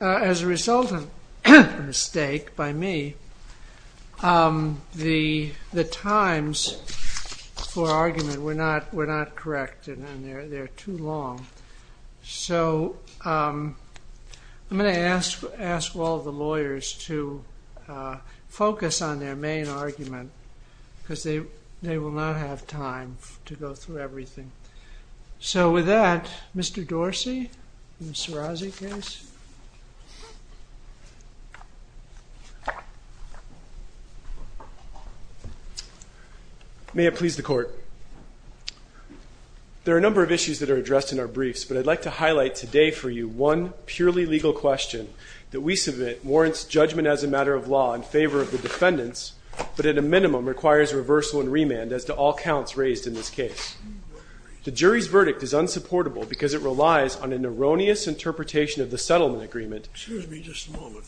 As a result of a mistake by me, the times for argument were not correct and they are too long. So, I'm going to ask all the lawyers to focus on their main argument because they will not have time to go through everything. So, with that, Mr. Dorsey, Sirazi case. May it please the court. There are a number of issues that are addressed in our briefs, but I'd like to highlight today for you one purely legal question that we submit warrants judgment as a matter of law in favor of the defendants, but at a minimum requires reversal and remand as to all counts raised in this case. The jury's verdict is unsupportable because it relies on an erroneous interpretation of the settlement agreement. Excuse me just a moment.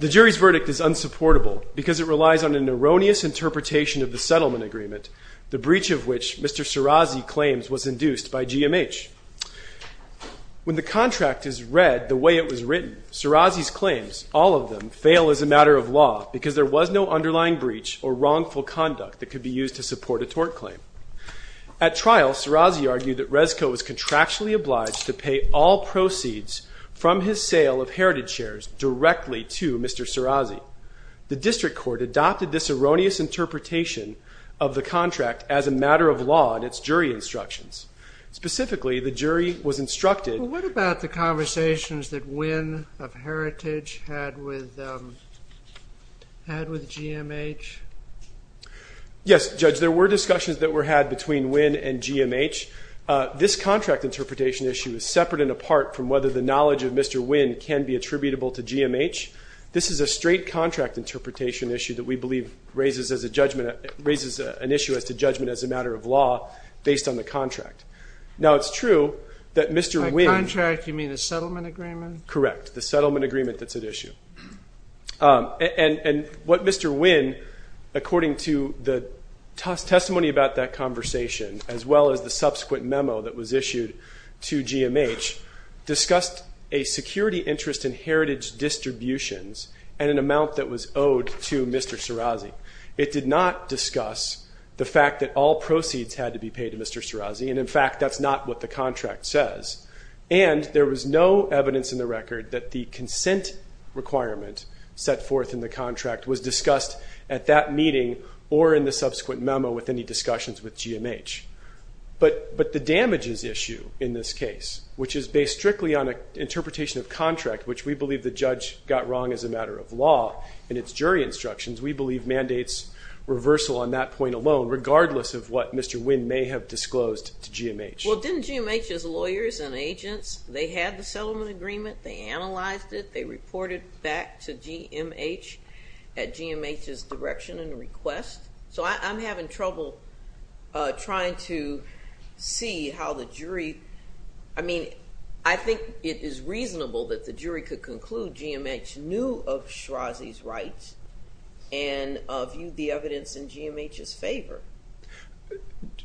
The jury's verdict is unsupportable because it relies on an erroneous interpretation of the settlement agreement, the breach of which Mr. Sirazi claims was induced by GMH. When the contract is read the way it was written, Sirazi's claims, all of them, fail as a matter of law because there was no underlying breach or wrongful conduct that could be used to support a tort claim. At trial, Sirazi argued that Resco was contractually obliged to pay all proceeds from his sale of heritage shares directly to Mr. Sirazi. The district court adopted this erroneous interpretation of the contract as a matter of law in its jury instructions. Specifically, the jury was instructed. What about the conversations that Wynne of Heritage had with GMH? Yes, Judge, there were discussions that were had between Wynne and GMH. This contract interpretation issue is separate and apart from whether the knowledge of Mr. Wynne can be attributable to GMH. This is a straight contract interpretation issue that we believe raises an issue as to judgment as a matter of law based on the contract. Now, it's true that Mr. Wynne. By contract, you mean a settlement agreement? Correct, the settlement agreement that's at issue. And what Mr. Wynne, according to the testimony about that conversation, as well as the subsequent memo that was issued to GMH, discussed a security interest in heritage distributions and an amount that was owed to Mr. Sirazi. It did not discuss the fact that all proceeds had to be paid to Mr. Sirazi. And in fact, that's not what the contract says. And there was no evidence in the record that the consent requirement set forth in the contract was discussed at that meeting or in the subsequent memo with any discussions with GMH. But the damages issue in this case, which is based strictly on an interpretation of contract, which we believe the judge got wrong as a matter of law in its jury instructions, we believe mandates reversal on that point alone, regardless of what Mr. Wynne may have disclosed to GMH. Well, didn't GMH's lawyers and agents, they had the settlement agreement, they analyzed it, they reported back to GMH at GMH's direction and request? So I'm having trouble trying to see how the jury – I mean, I think it is reasonable that the jury could conclude GMH knew of Sirazi's rights and viewed the evidence in GMH's favor.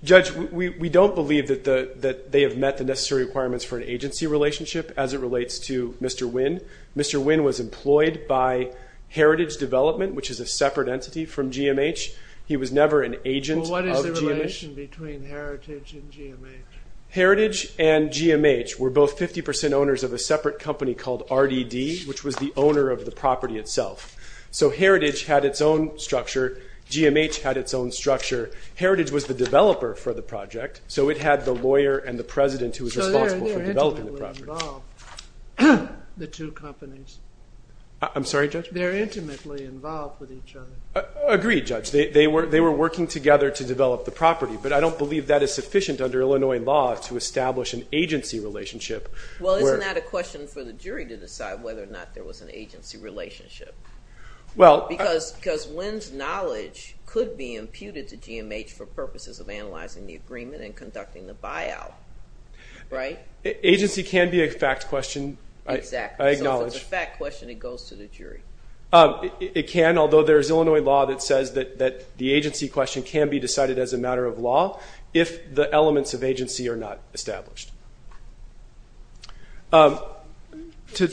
Judge, we don't believe that they have met the necessary requirements for an agency relationship as it relates to Mr. Wynne. Mr. Wynne was employed by Heritage Development, which is a separate entity from GMH. He was never an agent of GMH. Well, what is the relation between Heritage and GMH? Heritage and GMH were both 50% owners of a separate company called RDD, which was the owner of the property itself. So Heritage had its own structure. GMH had its own structure. Heritage was the developer for the project, so it had the lawyer and the president who was responsible for developing the property. So they're intimately involved, the two companies. I'm sorry, Judge? They're intimately involved with each other. Agreed, Judge. They were working together to develop the property, but I don't believe that is sufficient under Illinois law to establish an agency relationship. Well, isn't that a question for the jury to decide whether or not there was an agency relationship? Because Wynne's knowledge could be imputed to GMH for purposes of analyzing the agreement and conducting the buyout, right? Agency can be a fact question. I acknowledge. So if it's a fact question, it goes to the jury. It can, although there is Illinois law that says that the agency question can be decided as a matter of law if the elements of agency are not established. To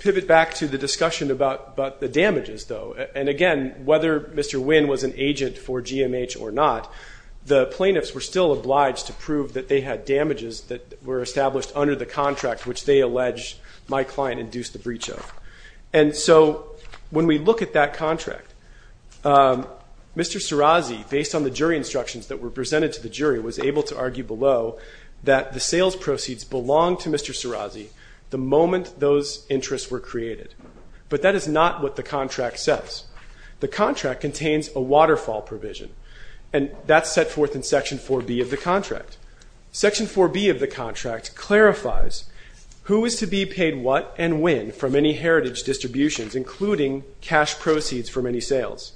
pivot back to the discussion about the damages, though, and again, whether Mr. Wynne was an agent for GMH or not, the plaintiffs were still obliged to prove that they had damages that were established under the contract, which they allege my client induced the breach of. And so when we look at that contract, Mr. Sirazi, based on the jury instructions that were presented to the jury, was able to argue below that the sales proceeds belonged to Mr. Sirazi the moment those interests were created. But that is not what the contract says. The contract contains a waterfall provision, and that's set forth in Section 4B of the contract. Section 4B of the contract clarifies who is to be paid what and when from any heritage distributions, including cash proceeds for many sales.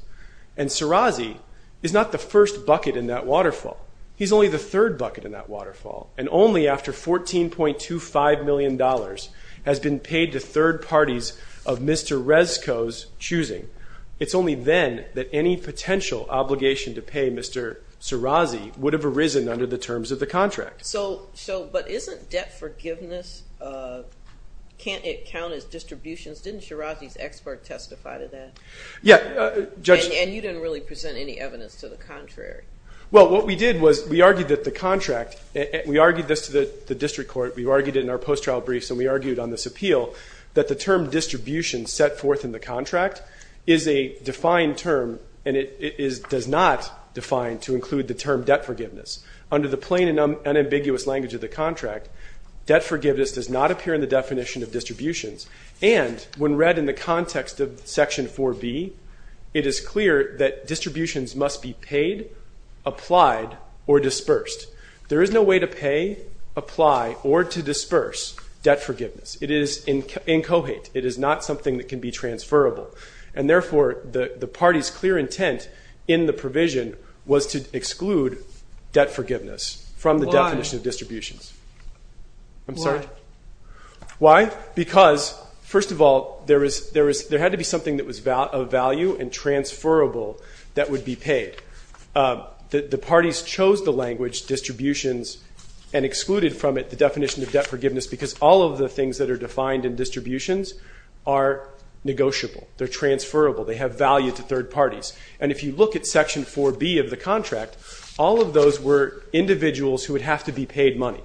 And Sirazi is not the first bucket in that waterfall. He's only the third bucket in that waterfall. And only after $14.25 million has been paid to third parties of Mr. Rescoe's choosing, it's only then that any potential obligation to pay Mr. Sirazi would have arisen under the terms of the contract. So but isn't debt forgiveness, can't it count as distributions? Didn't Sirazi's expert testify to that? Yeah. And you didn't really present any evidence to the contrary. Well, what we did was we argued that the contract, we argued this to the district court, we argued it in our post-trial briefs, and we argued on this appeal, that the term distribution set forth in the contract is a defined term, and it does not define to include the term debt forgiveness. Under the plain and unambiguous language of the contract, debt forgiveness does not appear in the definition of distributions. And when read in the context of Section 4B, it is clear that distributions must be paid, applied, or dispersed. There is no way to pay, apply, or to disperse debt forgiveness. It is incohate. It is not something that can be transferable. And therefore, the party's clear intent in the provision was to exclude debt forgiveness from the definition of distributions. Why? I'm sorry? Why? Because, first of all, there had to be something that was of value and transferable that would be paid. The parties chose the language distributions and excluded from it the definition of debt forgiveness because all of the things that are defined in distributions are negotiable. They're transferable. They have value to third parties. And if you look at Section 4B of the contract, all of those were individuals who would have to be paid money.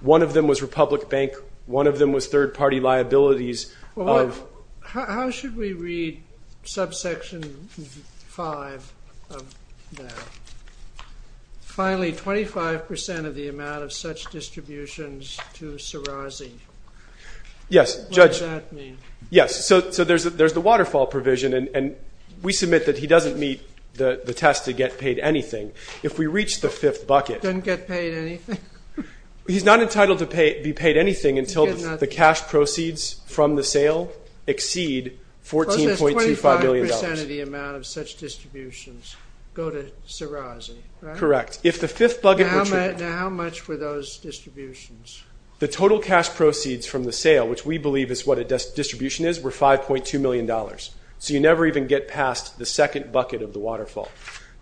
One of them was Republic Bank. One of them was third-party liabilities. How should we read subsection 5 of that? Finally, 25% of the amount of such distributions to Serrazi. Yes. What does that mean? Yes. So there's the waterfall provision. And we submit that he doesn't meet the test to get paid anything. If we reach the fifth bucket. Then get paid anything? He's not entitled to be paid anything until the cash proceeds from the sale exceed $14.25 million. So that's 25% of the amount of such distributions go to Serrazi, right? Correct. Now how much were those distributions? The total cash proceeds from the sale, which we believe is what a distribution is, were $5.2 million. So you never even get past the second bucket of the waterfall.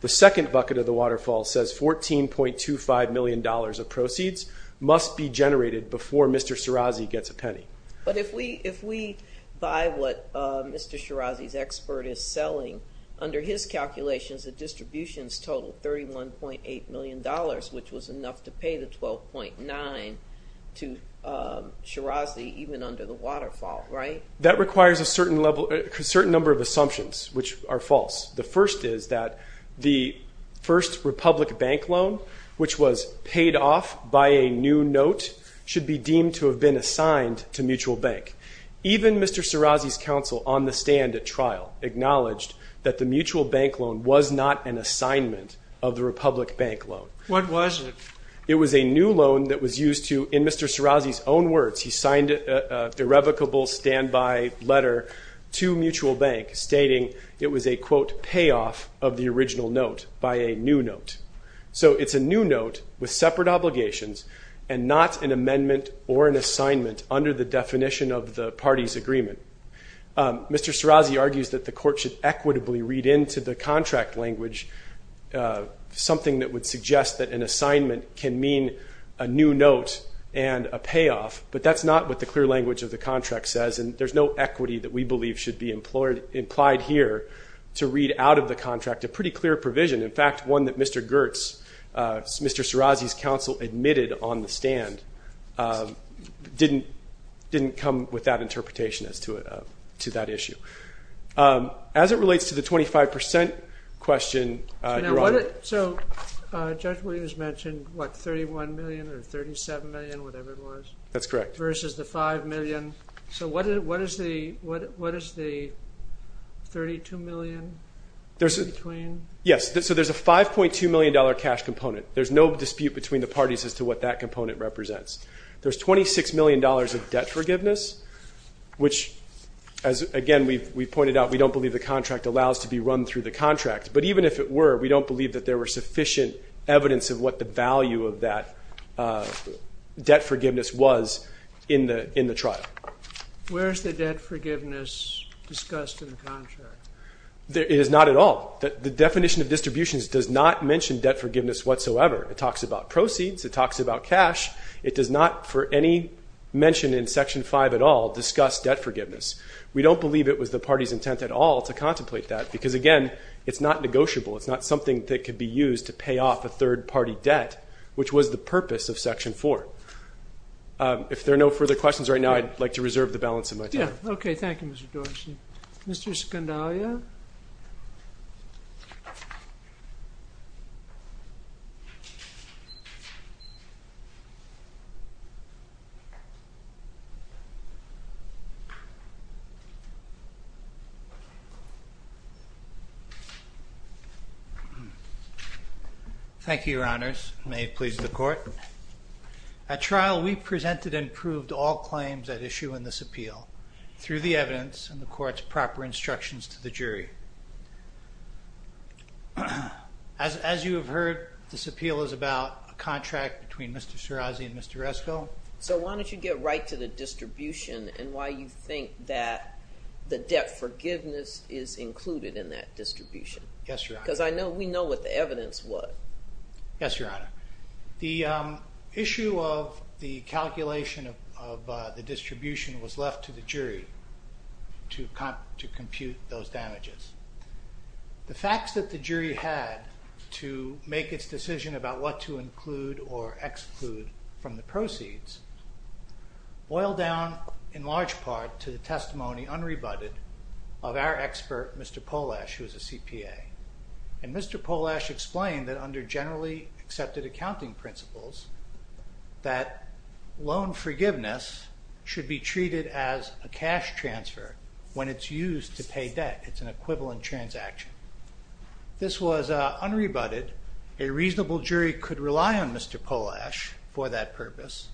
The second bucket of the waterfall says $14.25 million of proceeds must be generated before Mr. Serrazi gets a penny. But if we buy what Mr. Serrazi's expert is selling, under his calculations, the distributions total $31.8 million, which was enough to pay the 12.9 to Serrazi even under the waterfall, right? That requires a certain number of assumptions, which are false. The first is that the first Republic Bank loan, which was paid off by a new note, should be deemed to have been assigned to Mutual Bank. Even Mr. Serrazi's counsel on the stand at trial acknowledged that the Mutual Bank loan was not an assignment of the Republic Bank loan. What was it? It was a new loan that was used to, in Mr. Serrazi's own words, he signed an irrevocable standby letter to Mutual Bank stating it was a, quote, payoff of the original note by a new note. So it's a new note with separate obligations and not an amendment or an assignment under the definition of the party's agreement. Mr. Serrazi argues that the court should equitably read into the contract language something that would suggest that an assignment can mean a new note and a payoff. But that's not what the clear language of the contract says. And there's no equity that we believe should be implied here to read out of the contract a pretty clear provision, in fact, one that Mr. Goertz, Mr. Serrazi's counsel admitted on the stand, didn't come with that interpretation as to that issue. As it relates to the 25 percent question, Your Honor. So Judge Williams mentioned, what, $31 million or $37 million, whatever it was? That's correct. Versus the $5 million. So what is the $32 million between? Yes. So there's a $5.2 million cash component. There's no dispute between the parties as to what that component represents. There's $26 million of debt forgiveness, which, as, again, we've pointed out, we don't believe the contract allows to be run through the contract. But even if it were, we don't believe that there were sufficient evidence of what the value of that debt forgiveness was in the trial. Where is the debt forgiveness discussed in the contract? It is not at all. The definition of distributions does not mention debt forgiveness whatsoever. It talks about proceeds. It talks about cash. It does not, for any mention in Section 5 at all, discuss debt forgiveness. We don't believe it was the party's intent at all to contemplate that because, again, it's not negotiable. It's not something that could be used to pay off a third-party debt, which was the purpose of Section 4. If there are no further questions right now, I'd like to reserve the balance of my time. Okay. Thank you, Mr. Dorsey. Mr. Scandalia? Thank you, Your Honors. May it please the Court. At trial, we presented and proved all claims at issue in this appeal. Through the evidence and the Court's proper instructions to the jury. As you have heard, this appeal is about a contract between Mr. Shirazi and Mr. Esco. So why don't you get right to the distribution and why you think that the debt forgiveness is included in that distribution? Yes, Your Honor. Because we know what the evidence was. Yes, Your Honor. The issue of the calculation of the distribution was left to the jury to compute those damages. The facts that the jury had to make its decision about what to include or exclude from the proceeds boil down in large part to the testimony, unrebutted, of our expert, Mr. Polash, who is a CPA. And Mr. Polash explained that under generally accepted accounting principles, that loan forgiveness should be treated as a cash transfer when it's used to pay debt. It's an equivalent transaction. This was unrebutted. A reasonable jury could rely on Mr. Polash for that purpose.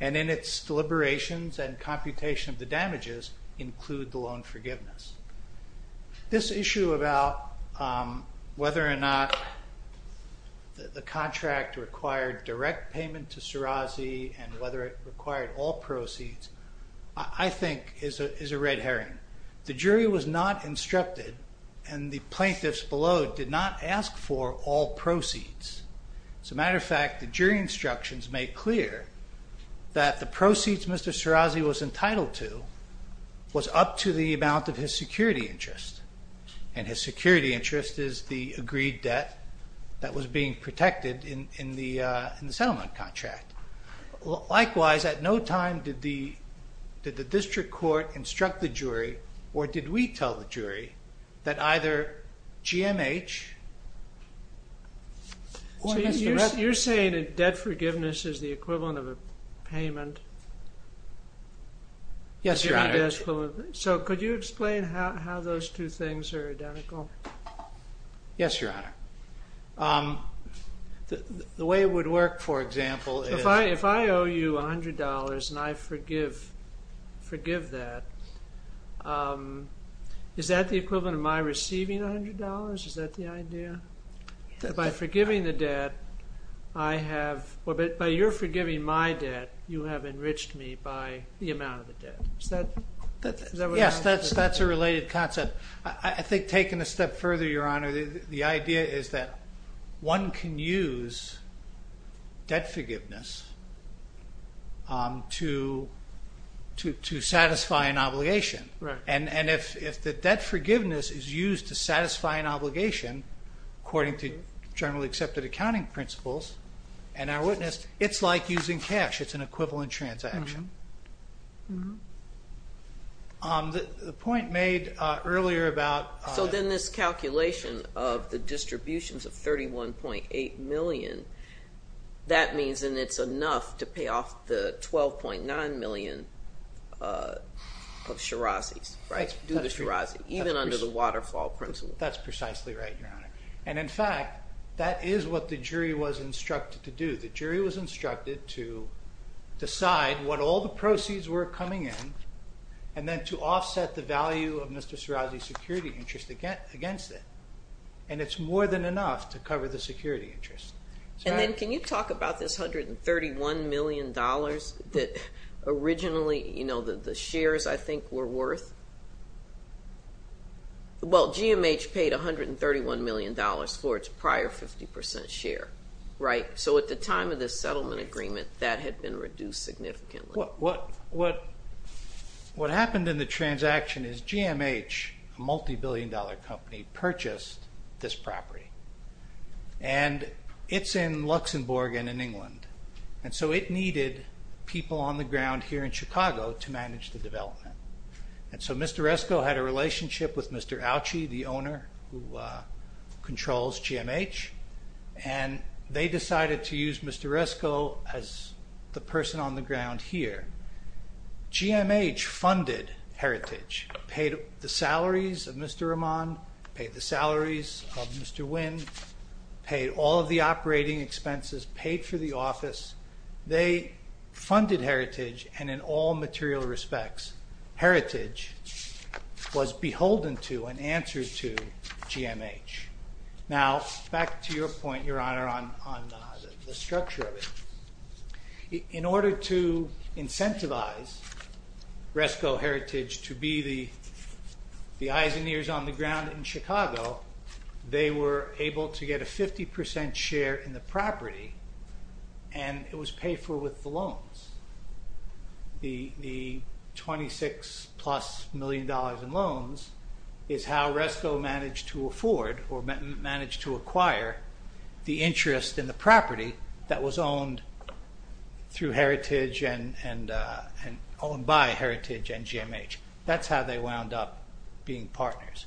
And in its deliberations and computation of the damages include the loan forgiveness. This issue about whether or not the contract required direct payment to Shirazi and whether it required all proceeds, I think, is a red herring. The jury was not instructed, and the plaintiffs below did not ask for all proceeds. As a matter of fact, the jury instructions make clear that the proceeds Mr. Shirazi was entitled to was up to the amount of his security interest. And his security interest is the agreed debt that was being protected in the settlement contract. Likewise, at no time did the district court instruct the jury, or did we tell the jury, that either G.M.H. or Mr. Resnick... So could you explain how those two things are identical? Yes, Your Honor. The way it would work, for example, is... If I owe you $100 and I forgive that, is that the equivalent of my receiving $100? Is that the idea? By forgiving the debt, I have... Yes, that's a related concept. I think taken a step further, Your Honor, the idea is that one can use debt forgiveness to satisfy an obligation. And if the debt forgiveness is used to satisfy an obligation, according to generally accepted accounting principles, and I witnessed, it's like using cash. It's an equivalent transaction. The point made earlier about... So then this calculation of the distributions of $31.8 million, that means then it's enough to pay off the $12.9 million of Shirazi's, right? Due to Shirazi, even under the waterfall principle. That's precisely right, Your Honor. And in fact, that is what the jury was instructed to do. The jury was instructed to decide what all the proceeds were coming in and then to offset the value of Mr. Shirazi's security interest against it. And it's more than enough to cover the security interest. And then can you talk about this $131 million that originally, you know, the shares, I think, were worth? Well, GMH paid $131 million for its prior 50% share, right? So at the time of this settlement agreement, that had been reduced significantly. What happened in the transaction is GMH, a multibillion-dollar company, purchased this property. And it's in Luxembourg and in England. And so it needed people on the ground here in Chicago to manage the development. And so Mr. Resko had a relationship with Mr. Auchi, the owner who controls GMH, and they decided to use Mr. Resko as the person on the ground here. GMH funded Heritage, paid the salaries of Mr. Rahman, paid the salaries of Mr. Nguyen, paid all of the operating expenses, paid for the office. They funded Heritage, and in all material respects, Heritage was beholden to and answered to GMH. Now, back to your point, Your Honor, on the structure of it. In order to incentivize Resko Heritage to be the eyes and ears on the ground in Chicago, they were able to get a 50% share in the property and it was paid for with the loans. The $26-plus million in loans is how Resko managed to afford or managed to acquire the interest in the property that was owned through Heritage and owned by Heritage and GMH. That's how they wound up being partners.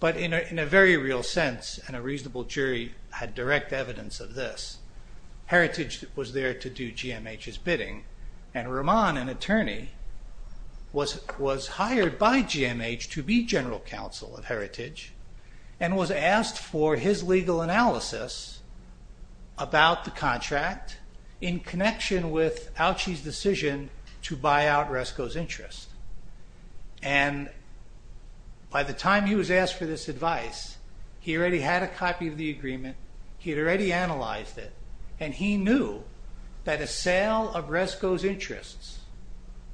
But in a very real sense, and a reasonable jury had direct evidence of this, Heritage was there to do GMH's bidding, and Rahman, an attorney, was hired by GMH to be general counsel of Heritage and was asked for his legal analysis about the contract in connection with Auchi's decision to buy out Resko's interest. And by the time he was asked for this advice, he already had a copy of the agreement, he had already analyzed it, and he knew that a sale of Resko's interests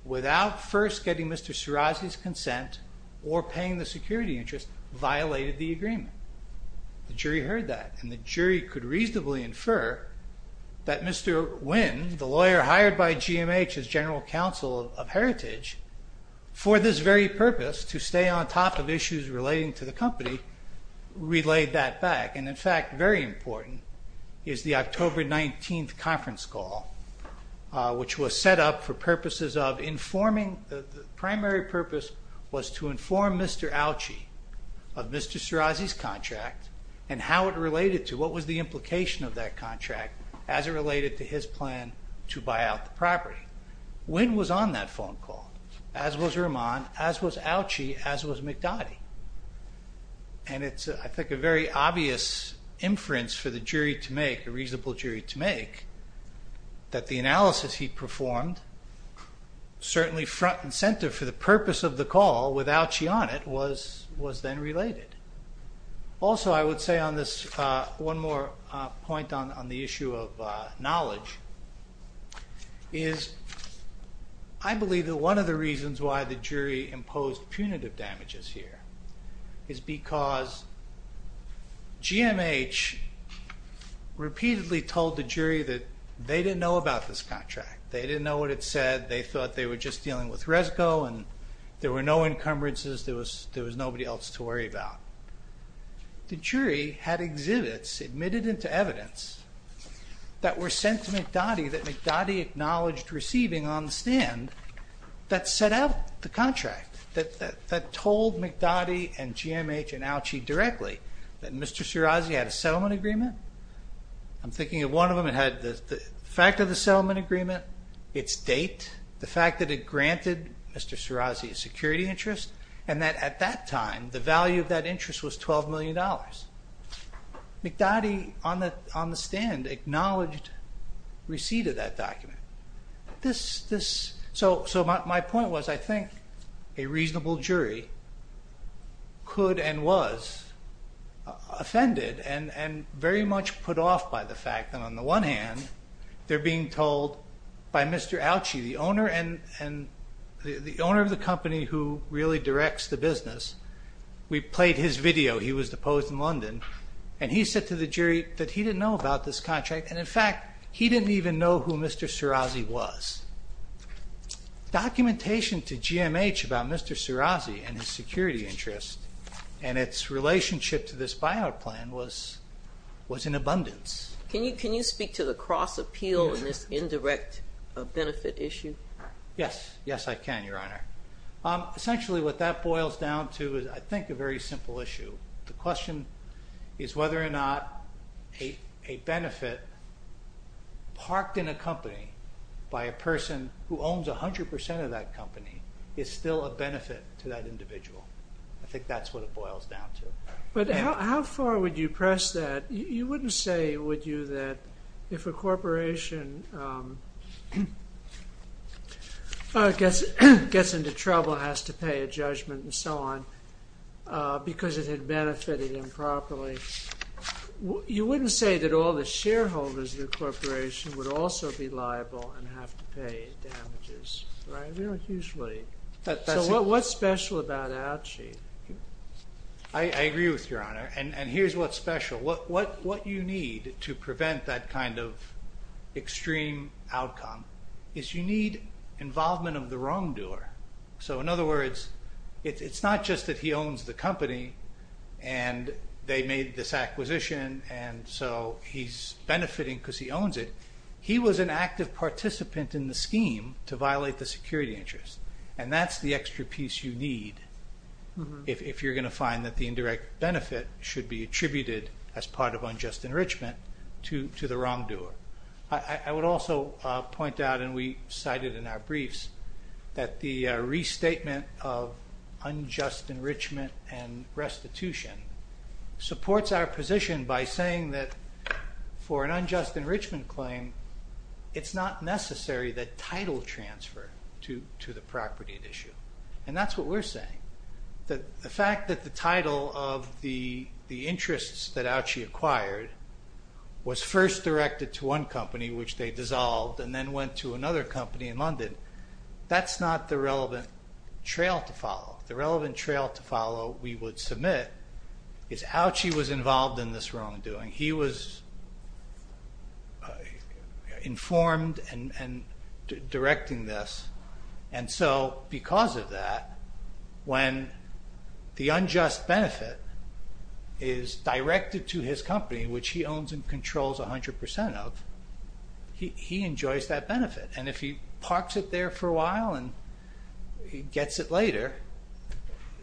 without first getting Mr. Sirazi's consent or paying the security interest violated the agreement. The jury heard that, and the jury could reasonably infer that Mr. Nguyen, the lawyer hired by GMH as general counsel of Heritage, for this very purpose, to stay on top of issues relating to the company, relayed that back. And, in fact, very important is the October 19th conference call, which was set up for purposes of informing. The primary purpose was to inform Mr. Auchi of Mr. Sirazi's contract and how it related to what was the implication of that contract as it related to his plan to buy out the property. Nguyen was on that phone call, as was Rahman, as was Auchi, as was McDotty. And it's, I think, a very obvious inference for the jury to make, a reasonable jury to make, that the analysis he performed, certainly front and center for the purpose of the call with Auchi on it, was then related. Also, I would say on this one more point on the issue of knowledge, is I believe that one of the reasons why the jury imposed punitive damages here is because GMH repeatedly told the jury that they didn't know about this contract. They didn't know what it said. They thought they were just dealing with Resco, and there were no encumbrances. There was nobody else to worry about. The jury had exhibits admitted into evidence that were sent to McDotty that McDotty acknowledged receiving on the stand that set out the contract, that told McDotty and GMH and Auchi directly that Mr. Sirazi had a settlement agreement. I'm thinking of one of them that had the fact of the settlement agreement, its date, the fact that it granted Mr. Sirazi a security interest, and that at that time the value of that interest was $12 million. McDotty on the stand acknowledged receipt of that document. So my point was I think a reasonable jury could and was offended and very much put off by the fact that on the one hand they're being told by Mr. Auchi, the owner of the company who really directs the business. We played his video. He was deposed in London, and he said to the jury that he didn't know about this contract, and, in fact, he didn't even know who Mr. Sirazi was. Documentation to GMH about Mr. Sirazi and his security interest and its relationship to this buyout plan was in abundance. Can you speak to the cross-appeal in this indirect benefit issue? Yes. Yes, I can, Your Honor. Essentially what that boils down to is I think a very simple issue. The question is whether or not a benefit parked in a company by a person who owns 100% of that company is still a benefit to that individual. I think that's what it boils down to. But how far would you press that? You wouldn't say, would you, that if a corporation gets into trouble, has to pay a judgment and so on because it had benefited improperly, you wouldn't say that all the shareholders of the corporation would also be liable and have to pay damages, right? We don't usually. So what's special about Auchi? I agree with you, Your Honor, and here's what's special. What you need to prevent that kind of extreme outcome is you need involvement of the wrongdoer. So in other words, it's not just that he owns the company and they made this acquisition and so he's benefiting because he owns it. He was an active participant in the scheme to violate the security interest, and that's the extra piece you need if you're going to find that the indirect benefit should be attributed as part of unjust enrichment to the wrongdoer. I would also point out, and we cited in our briefs, that the restatement of unjust enrichment and restitution supports our position by saying that for an unjust enrichment claim, it's not necessary that title transfer to the property at issue. And that's what we're saying. The fact that the title of the interests that Auchi acquired was first directed to one company, which they dissolved, and then went to another company in London, that's not the relevant trail to follow. The relevant trail to follow, we would submit, is Auchi was involved in this wrongdoing. He was informed and directing this, and so because of that, when the unjust benefit is directed to his company, which he owns and controls 100% of, he enjoys that benefit. And if he parks it there for a while and gets it later,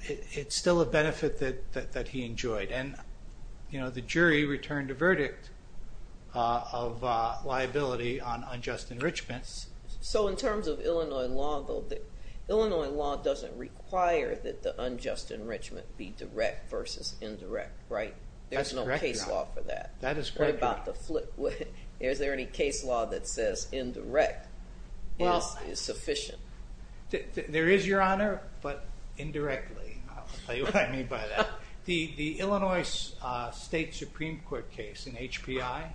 it's still a benefit that he enjoyed. And the jury returned a verdict of liability on unjust enrichment. So in terms of Illinois law, Illinois law doesn't require that the unjust enrichment be direct versus indirect, right? There's no case law for that. What about the flip? Is there any case law that says indirect is sufficient? There is, Your Honor, but indirectly. I'll tell you what I mean by that. The Illinois State Supreme Court case in HPI,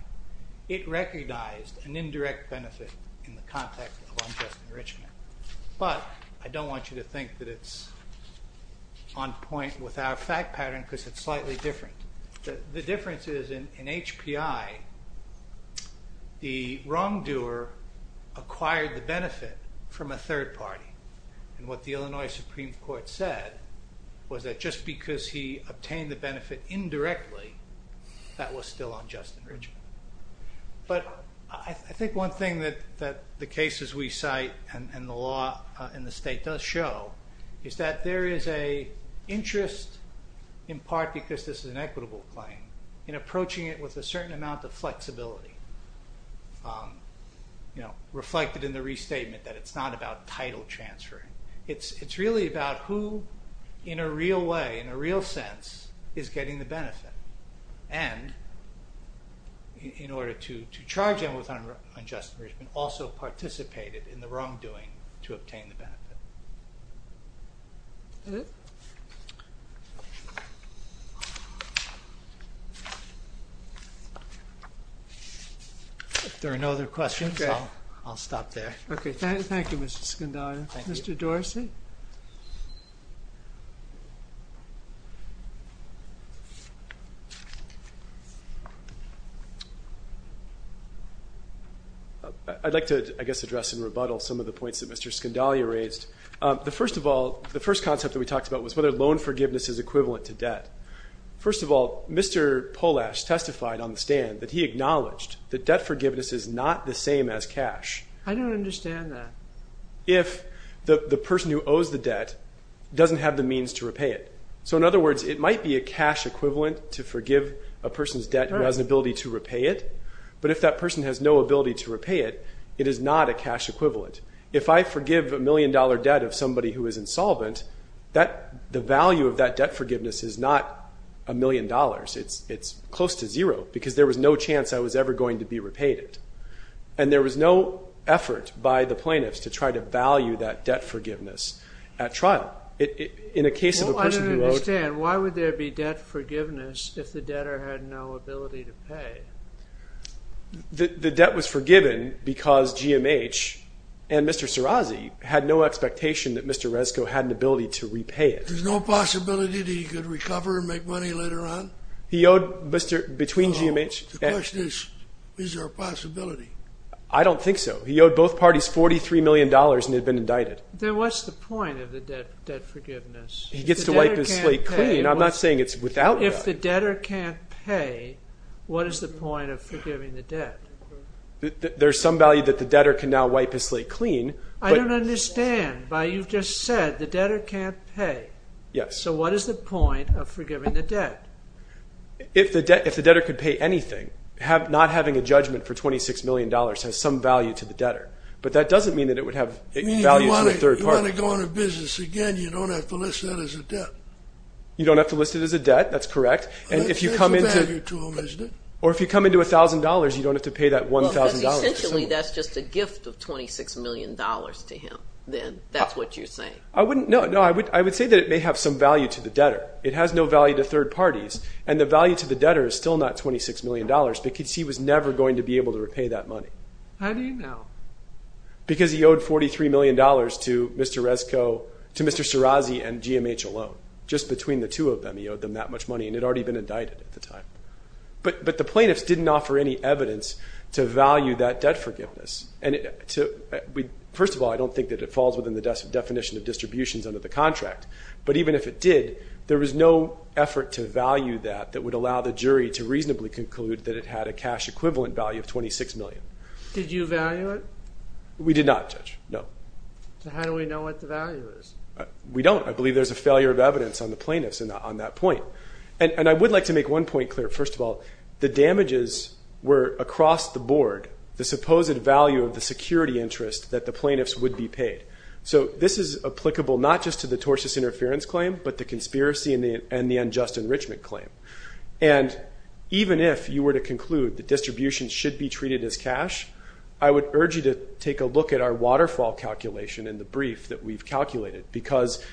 it recognized an indirect benefit in the context of unjust enrichment, but I don't want you to think that it's on point with our fact pattern because it's slightly different. The difference is in HPI, the wrongdoer acquired the benefit from a third party, and what the Illinois Supreme Court said was that just because he obtained the benefit indirectly, that was still unjust enrichment. But I think one thing that the cases we cite and the law in the state does show is that there is an interest, in part because this is an equitable claim, in approaching it with a certain amount of flexibility, reflected in the restatement that it's not about title transferring. It's really about who in a real way, in a real sense, is getting the benefit and in order to charge him with unjust enrichment, also participated in the wrongdoing to obtain the benefit. If there are no other questions, I'll stop there. Okay, thank you, Mr. Scindaglia. Mr. Dorsey? I'd like to, I guess, address in rebuttal some of the points that Mr. Scindaglia raised. The first concept that we talked about was whether loan forgiveness is equivalent to debt. First of all, Mr. Polash testified on the stand that he acknowledged that debt forgiveness is not the same as cash. I don't understand that. If the person who owes the debt doesn't have the means to repay it. So, in other words, it might be a cash equivalent to forgive a person's debt who has an ability to repay it, but if that person has no ability to repay it, it is not a cash equivalent. If I forgive a million-dollar debt of somebody who is insolvent, the value of that debt forgiveness is not a million dollars. It's close to zero because there was no chance I was ever going to be repaid it. And there was no effort by the plaintiffs to try to value that debt forgiveness at trial. In a case of a person who owed... Well, I don't understand. Why would there be debt forgiveness if the debtor had no ability to pay? The debt was forgiven because GMH and Mr. Sirazi had no expectation that Mr. Resko had an ability to repay it. There's no possibility that he could recover and make money later on? He owed between GMH and... The question is, is there a possibility? I don't think so. He owed both parties $43 million and had been indicted. Then what's the point of the debt forgiveness? He gets to wipe his slate clean. I'm not saying it's without debt. If the debtor can't pay, what is the point of forgiving the debt? There's some value that the debtor can now wipe his slate clean. I don't understand. You've just said the debtor can't pay. Yes. So what is the point of forgiving the debt? If the debtor could pay anything, not having a judgment for $26 million has some value to the debtor. But that doesn't mean that it would have value to a third party. You want to go into business again, you don't have to list that as a debt. You don't have to list it as a debt. That's correct. It's a value to them, isn't it? Or if you come into $1,000, you don't have to pay that $1,000. Essentially, that's just a gift of $26 million to him then. That's what you're saying. No, I would say that it may have some value to the debtor. It has no value to third parties, and the value to the debtor is still not $26 million because he was never going to be able to repay that money. How do you know? Because he owed $43 million to Mr. Serrazi and GMH alone. Just between the two of them, he owed them that much money, and he had already been indicted at the time. But the plaintiffs didn't offer any evidence to value that debt forgiveness. First of all, I don't think that it falls within the definition of distributions under the contract. But even if it did, there was no effort to value that that would allow the jury to reasonably conclude that it had a cash equivalent value of $26 million. Did you value it? We did not, Judge, no. So how do we know what the value is? We don't. I believe there's a failure of evidence on the plaintiffs on that point. And I would like to make one point clear. First of all, the damages were across the board, the supposed value of the security interest that the plaintiffs would be paid. So this is applicable not just to the tortious interference claim, but the conspiracy and the unjust enrichment claim. And even if you were to conclude that distributions should be treated as cash, I would urge you to take a look at our waterfall calculation in the brief that we've calculated, because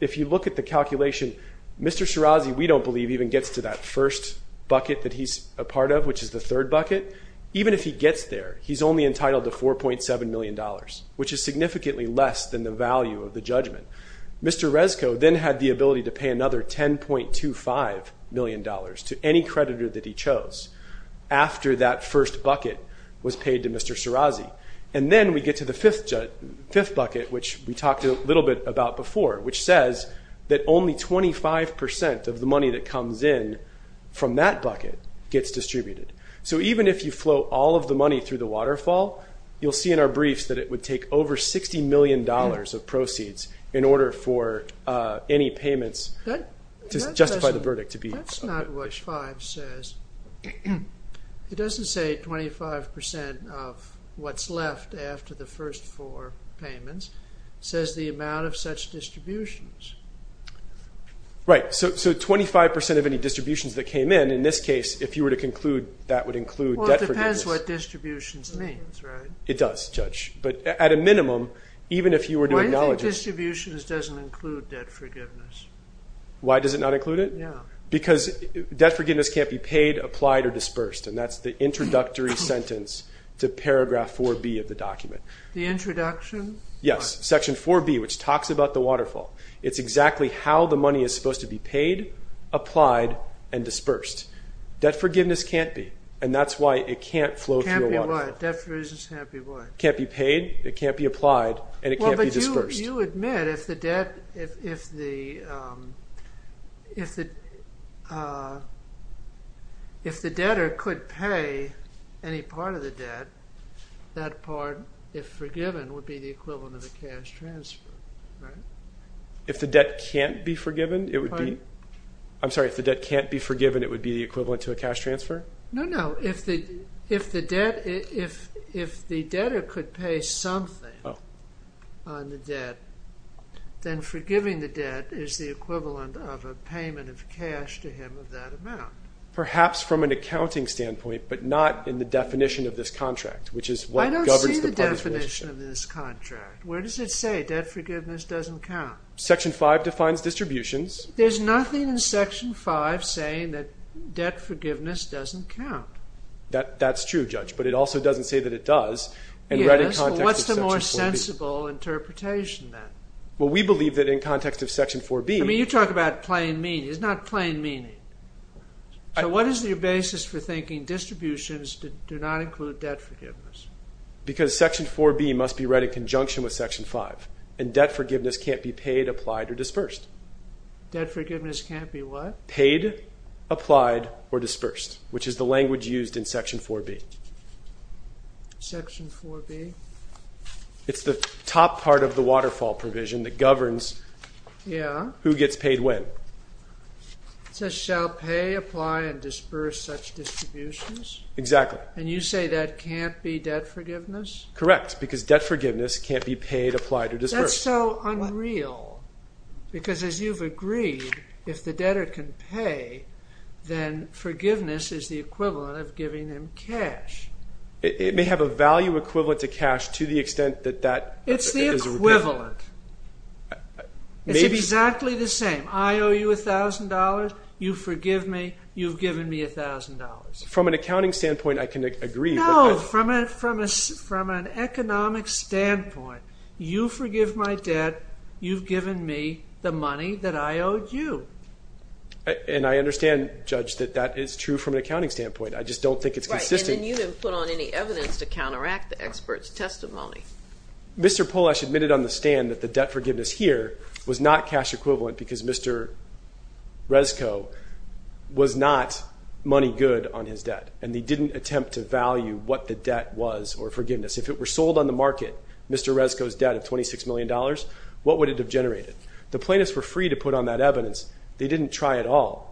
if you look at the calculation, Mr. Serrazi, we don't believe, even gets to that first bucket that he's a part of, which is the third bucket. Even if he gets there, he's only entitled to $4.7 million, which is significantly less than the value of the judgment. Mr. Rezko then had the ability to pay another $10.25 million to any creditor that he chose, after that first bucket was paid to Mr. Serrazi. And then we get to the fifth bucket, which we talked a little bit about before, which says that only 25% of the money that comes in from that bucket gets distributed. So even if you float all of the money through the waterfall, you'll see in our briefs that it would take over $60 million of proceeds in order for any payments to justify the verdict. That's not what 5 says. It doesn't say 25% of what's left after the first four payments. It says the amount of such distributions. Right. So 25% of any distributions that came in, in this case, if you were to conclude that would include debt forgiveness. It depends what distributions means, right? It does, Judge. But at a minimum, even if you were to acknowledge it. Why do you think distributions doesn't include debt forgiveness? Why does it not include it? Yeah. Because debt forgiveness can't be paid, applied, or dispersed, and that's the introductory sentence to paragraph 4B of the document. The introduction? Yes, section 4B, which talks about the waterfall. It's exactly how the money is supposed to be paid, applied, and dispersed. Debt forgiveness can't be, and that's why it can't flow through a waterfall. Can't be what? Debt forgiveness can't be what? Can't be paid, it can't be applied, and it can't be dispersed. Well, but you admit if the debtor could pay any part of the debt, that part, if forgiven, would be the equivalent of a cash transfer, right? No, no. If the debtor could pay something on the debt, then forgiving the debt is the equivalent of a payment of cash to him of that amount. Perhaps from an accounting standpoint, but not in the definition of this contract, which is what governs the public's relationship. I don't see the definition of this contract. Where does it say debt forgiveness doesn't count? Section 5 defines distributions. There's nothing in Section 5 saying that debt forgiveness doesn't count. That's true, Judge, but it also doesn't say that it does. Yes, but what's the more sensible interpretation then? Well, we believe that in context of Section 4B... I mean, you talk about plain meaning. It's not plain meaning. So what is your basis for thinking distributions do not include debt forgiveness? Because Section 4B must be read in conjunction with Section 5, and debt forgiveness can't be paid, applied, or dispersed. Debt forgiveness can't be what? Paid, applied, or dispersed, which is the language used in Section 4B. Section 4B? It's the top part of the waterfall provision that governs who gets paid when. It says, shall pay, apply, and disperse such distributions? Exactly. And you say that can't be debt forgiveness? Correct, because debt forgiveness can't be paid, applied, or dispersed. That's so unreal. Because as you've agreed, if the debtor can pay, then forgiveness is the equivalent of giving him cash. It may have a value equivalent to cash to the extent that that... It's the equivalent. It's exactly the same. I owe you $1,000, you forgive me, you've given me $1,000. From an accounting standpoint, I can agree. No, from an economic standpoint, you forgive my debt, you've given me the money that I owed you. And I understand, Judge, that that is true from an accounting standpoint. I just don't think it's consistent. Right, and then you didn't put on any evidence to counteract the expert's testimony. Mr. Polash admitted on the stand that the debt forgiveness here was not cash equivalent because Mr. Resco was not money good on his debt, and they didn't attempt to value what the debt was or forgiveness. If it were sold on the market, Mr. Resco's debt of $26 million, what would it have generated? The plaintiffs were free to put on that evidence. They didn't try at all.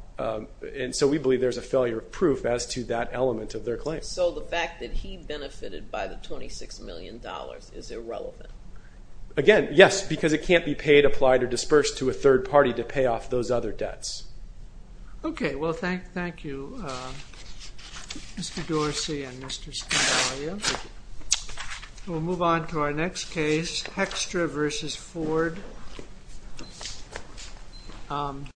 And so we believe there's a failure of proof as to that element of their claim. So the fact that he benefited by the $26 million is irrelevant? Again, yes, because it can't be paid, applied, or dispersed to a third party to pay off those other debts. Okay, well, thank you, Mr. Dorsey and Mr. Scindaglio. We'll move on to our next case, Hextra v. Ford.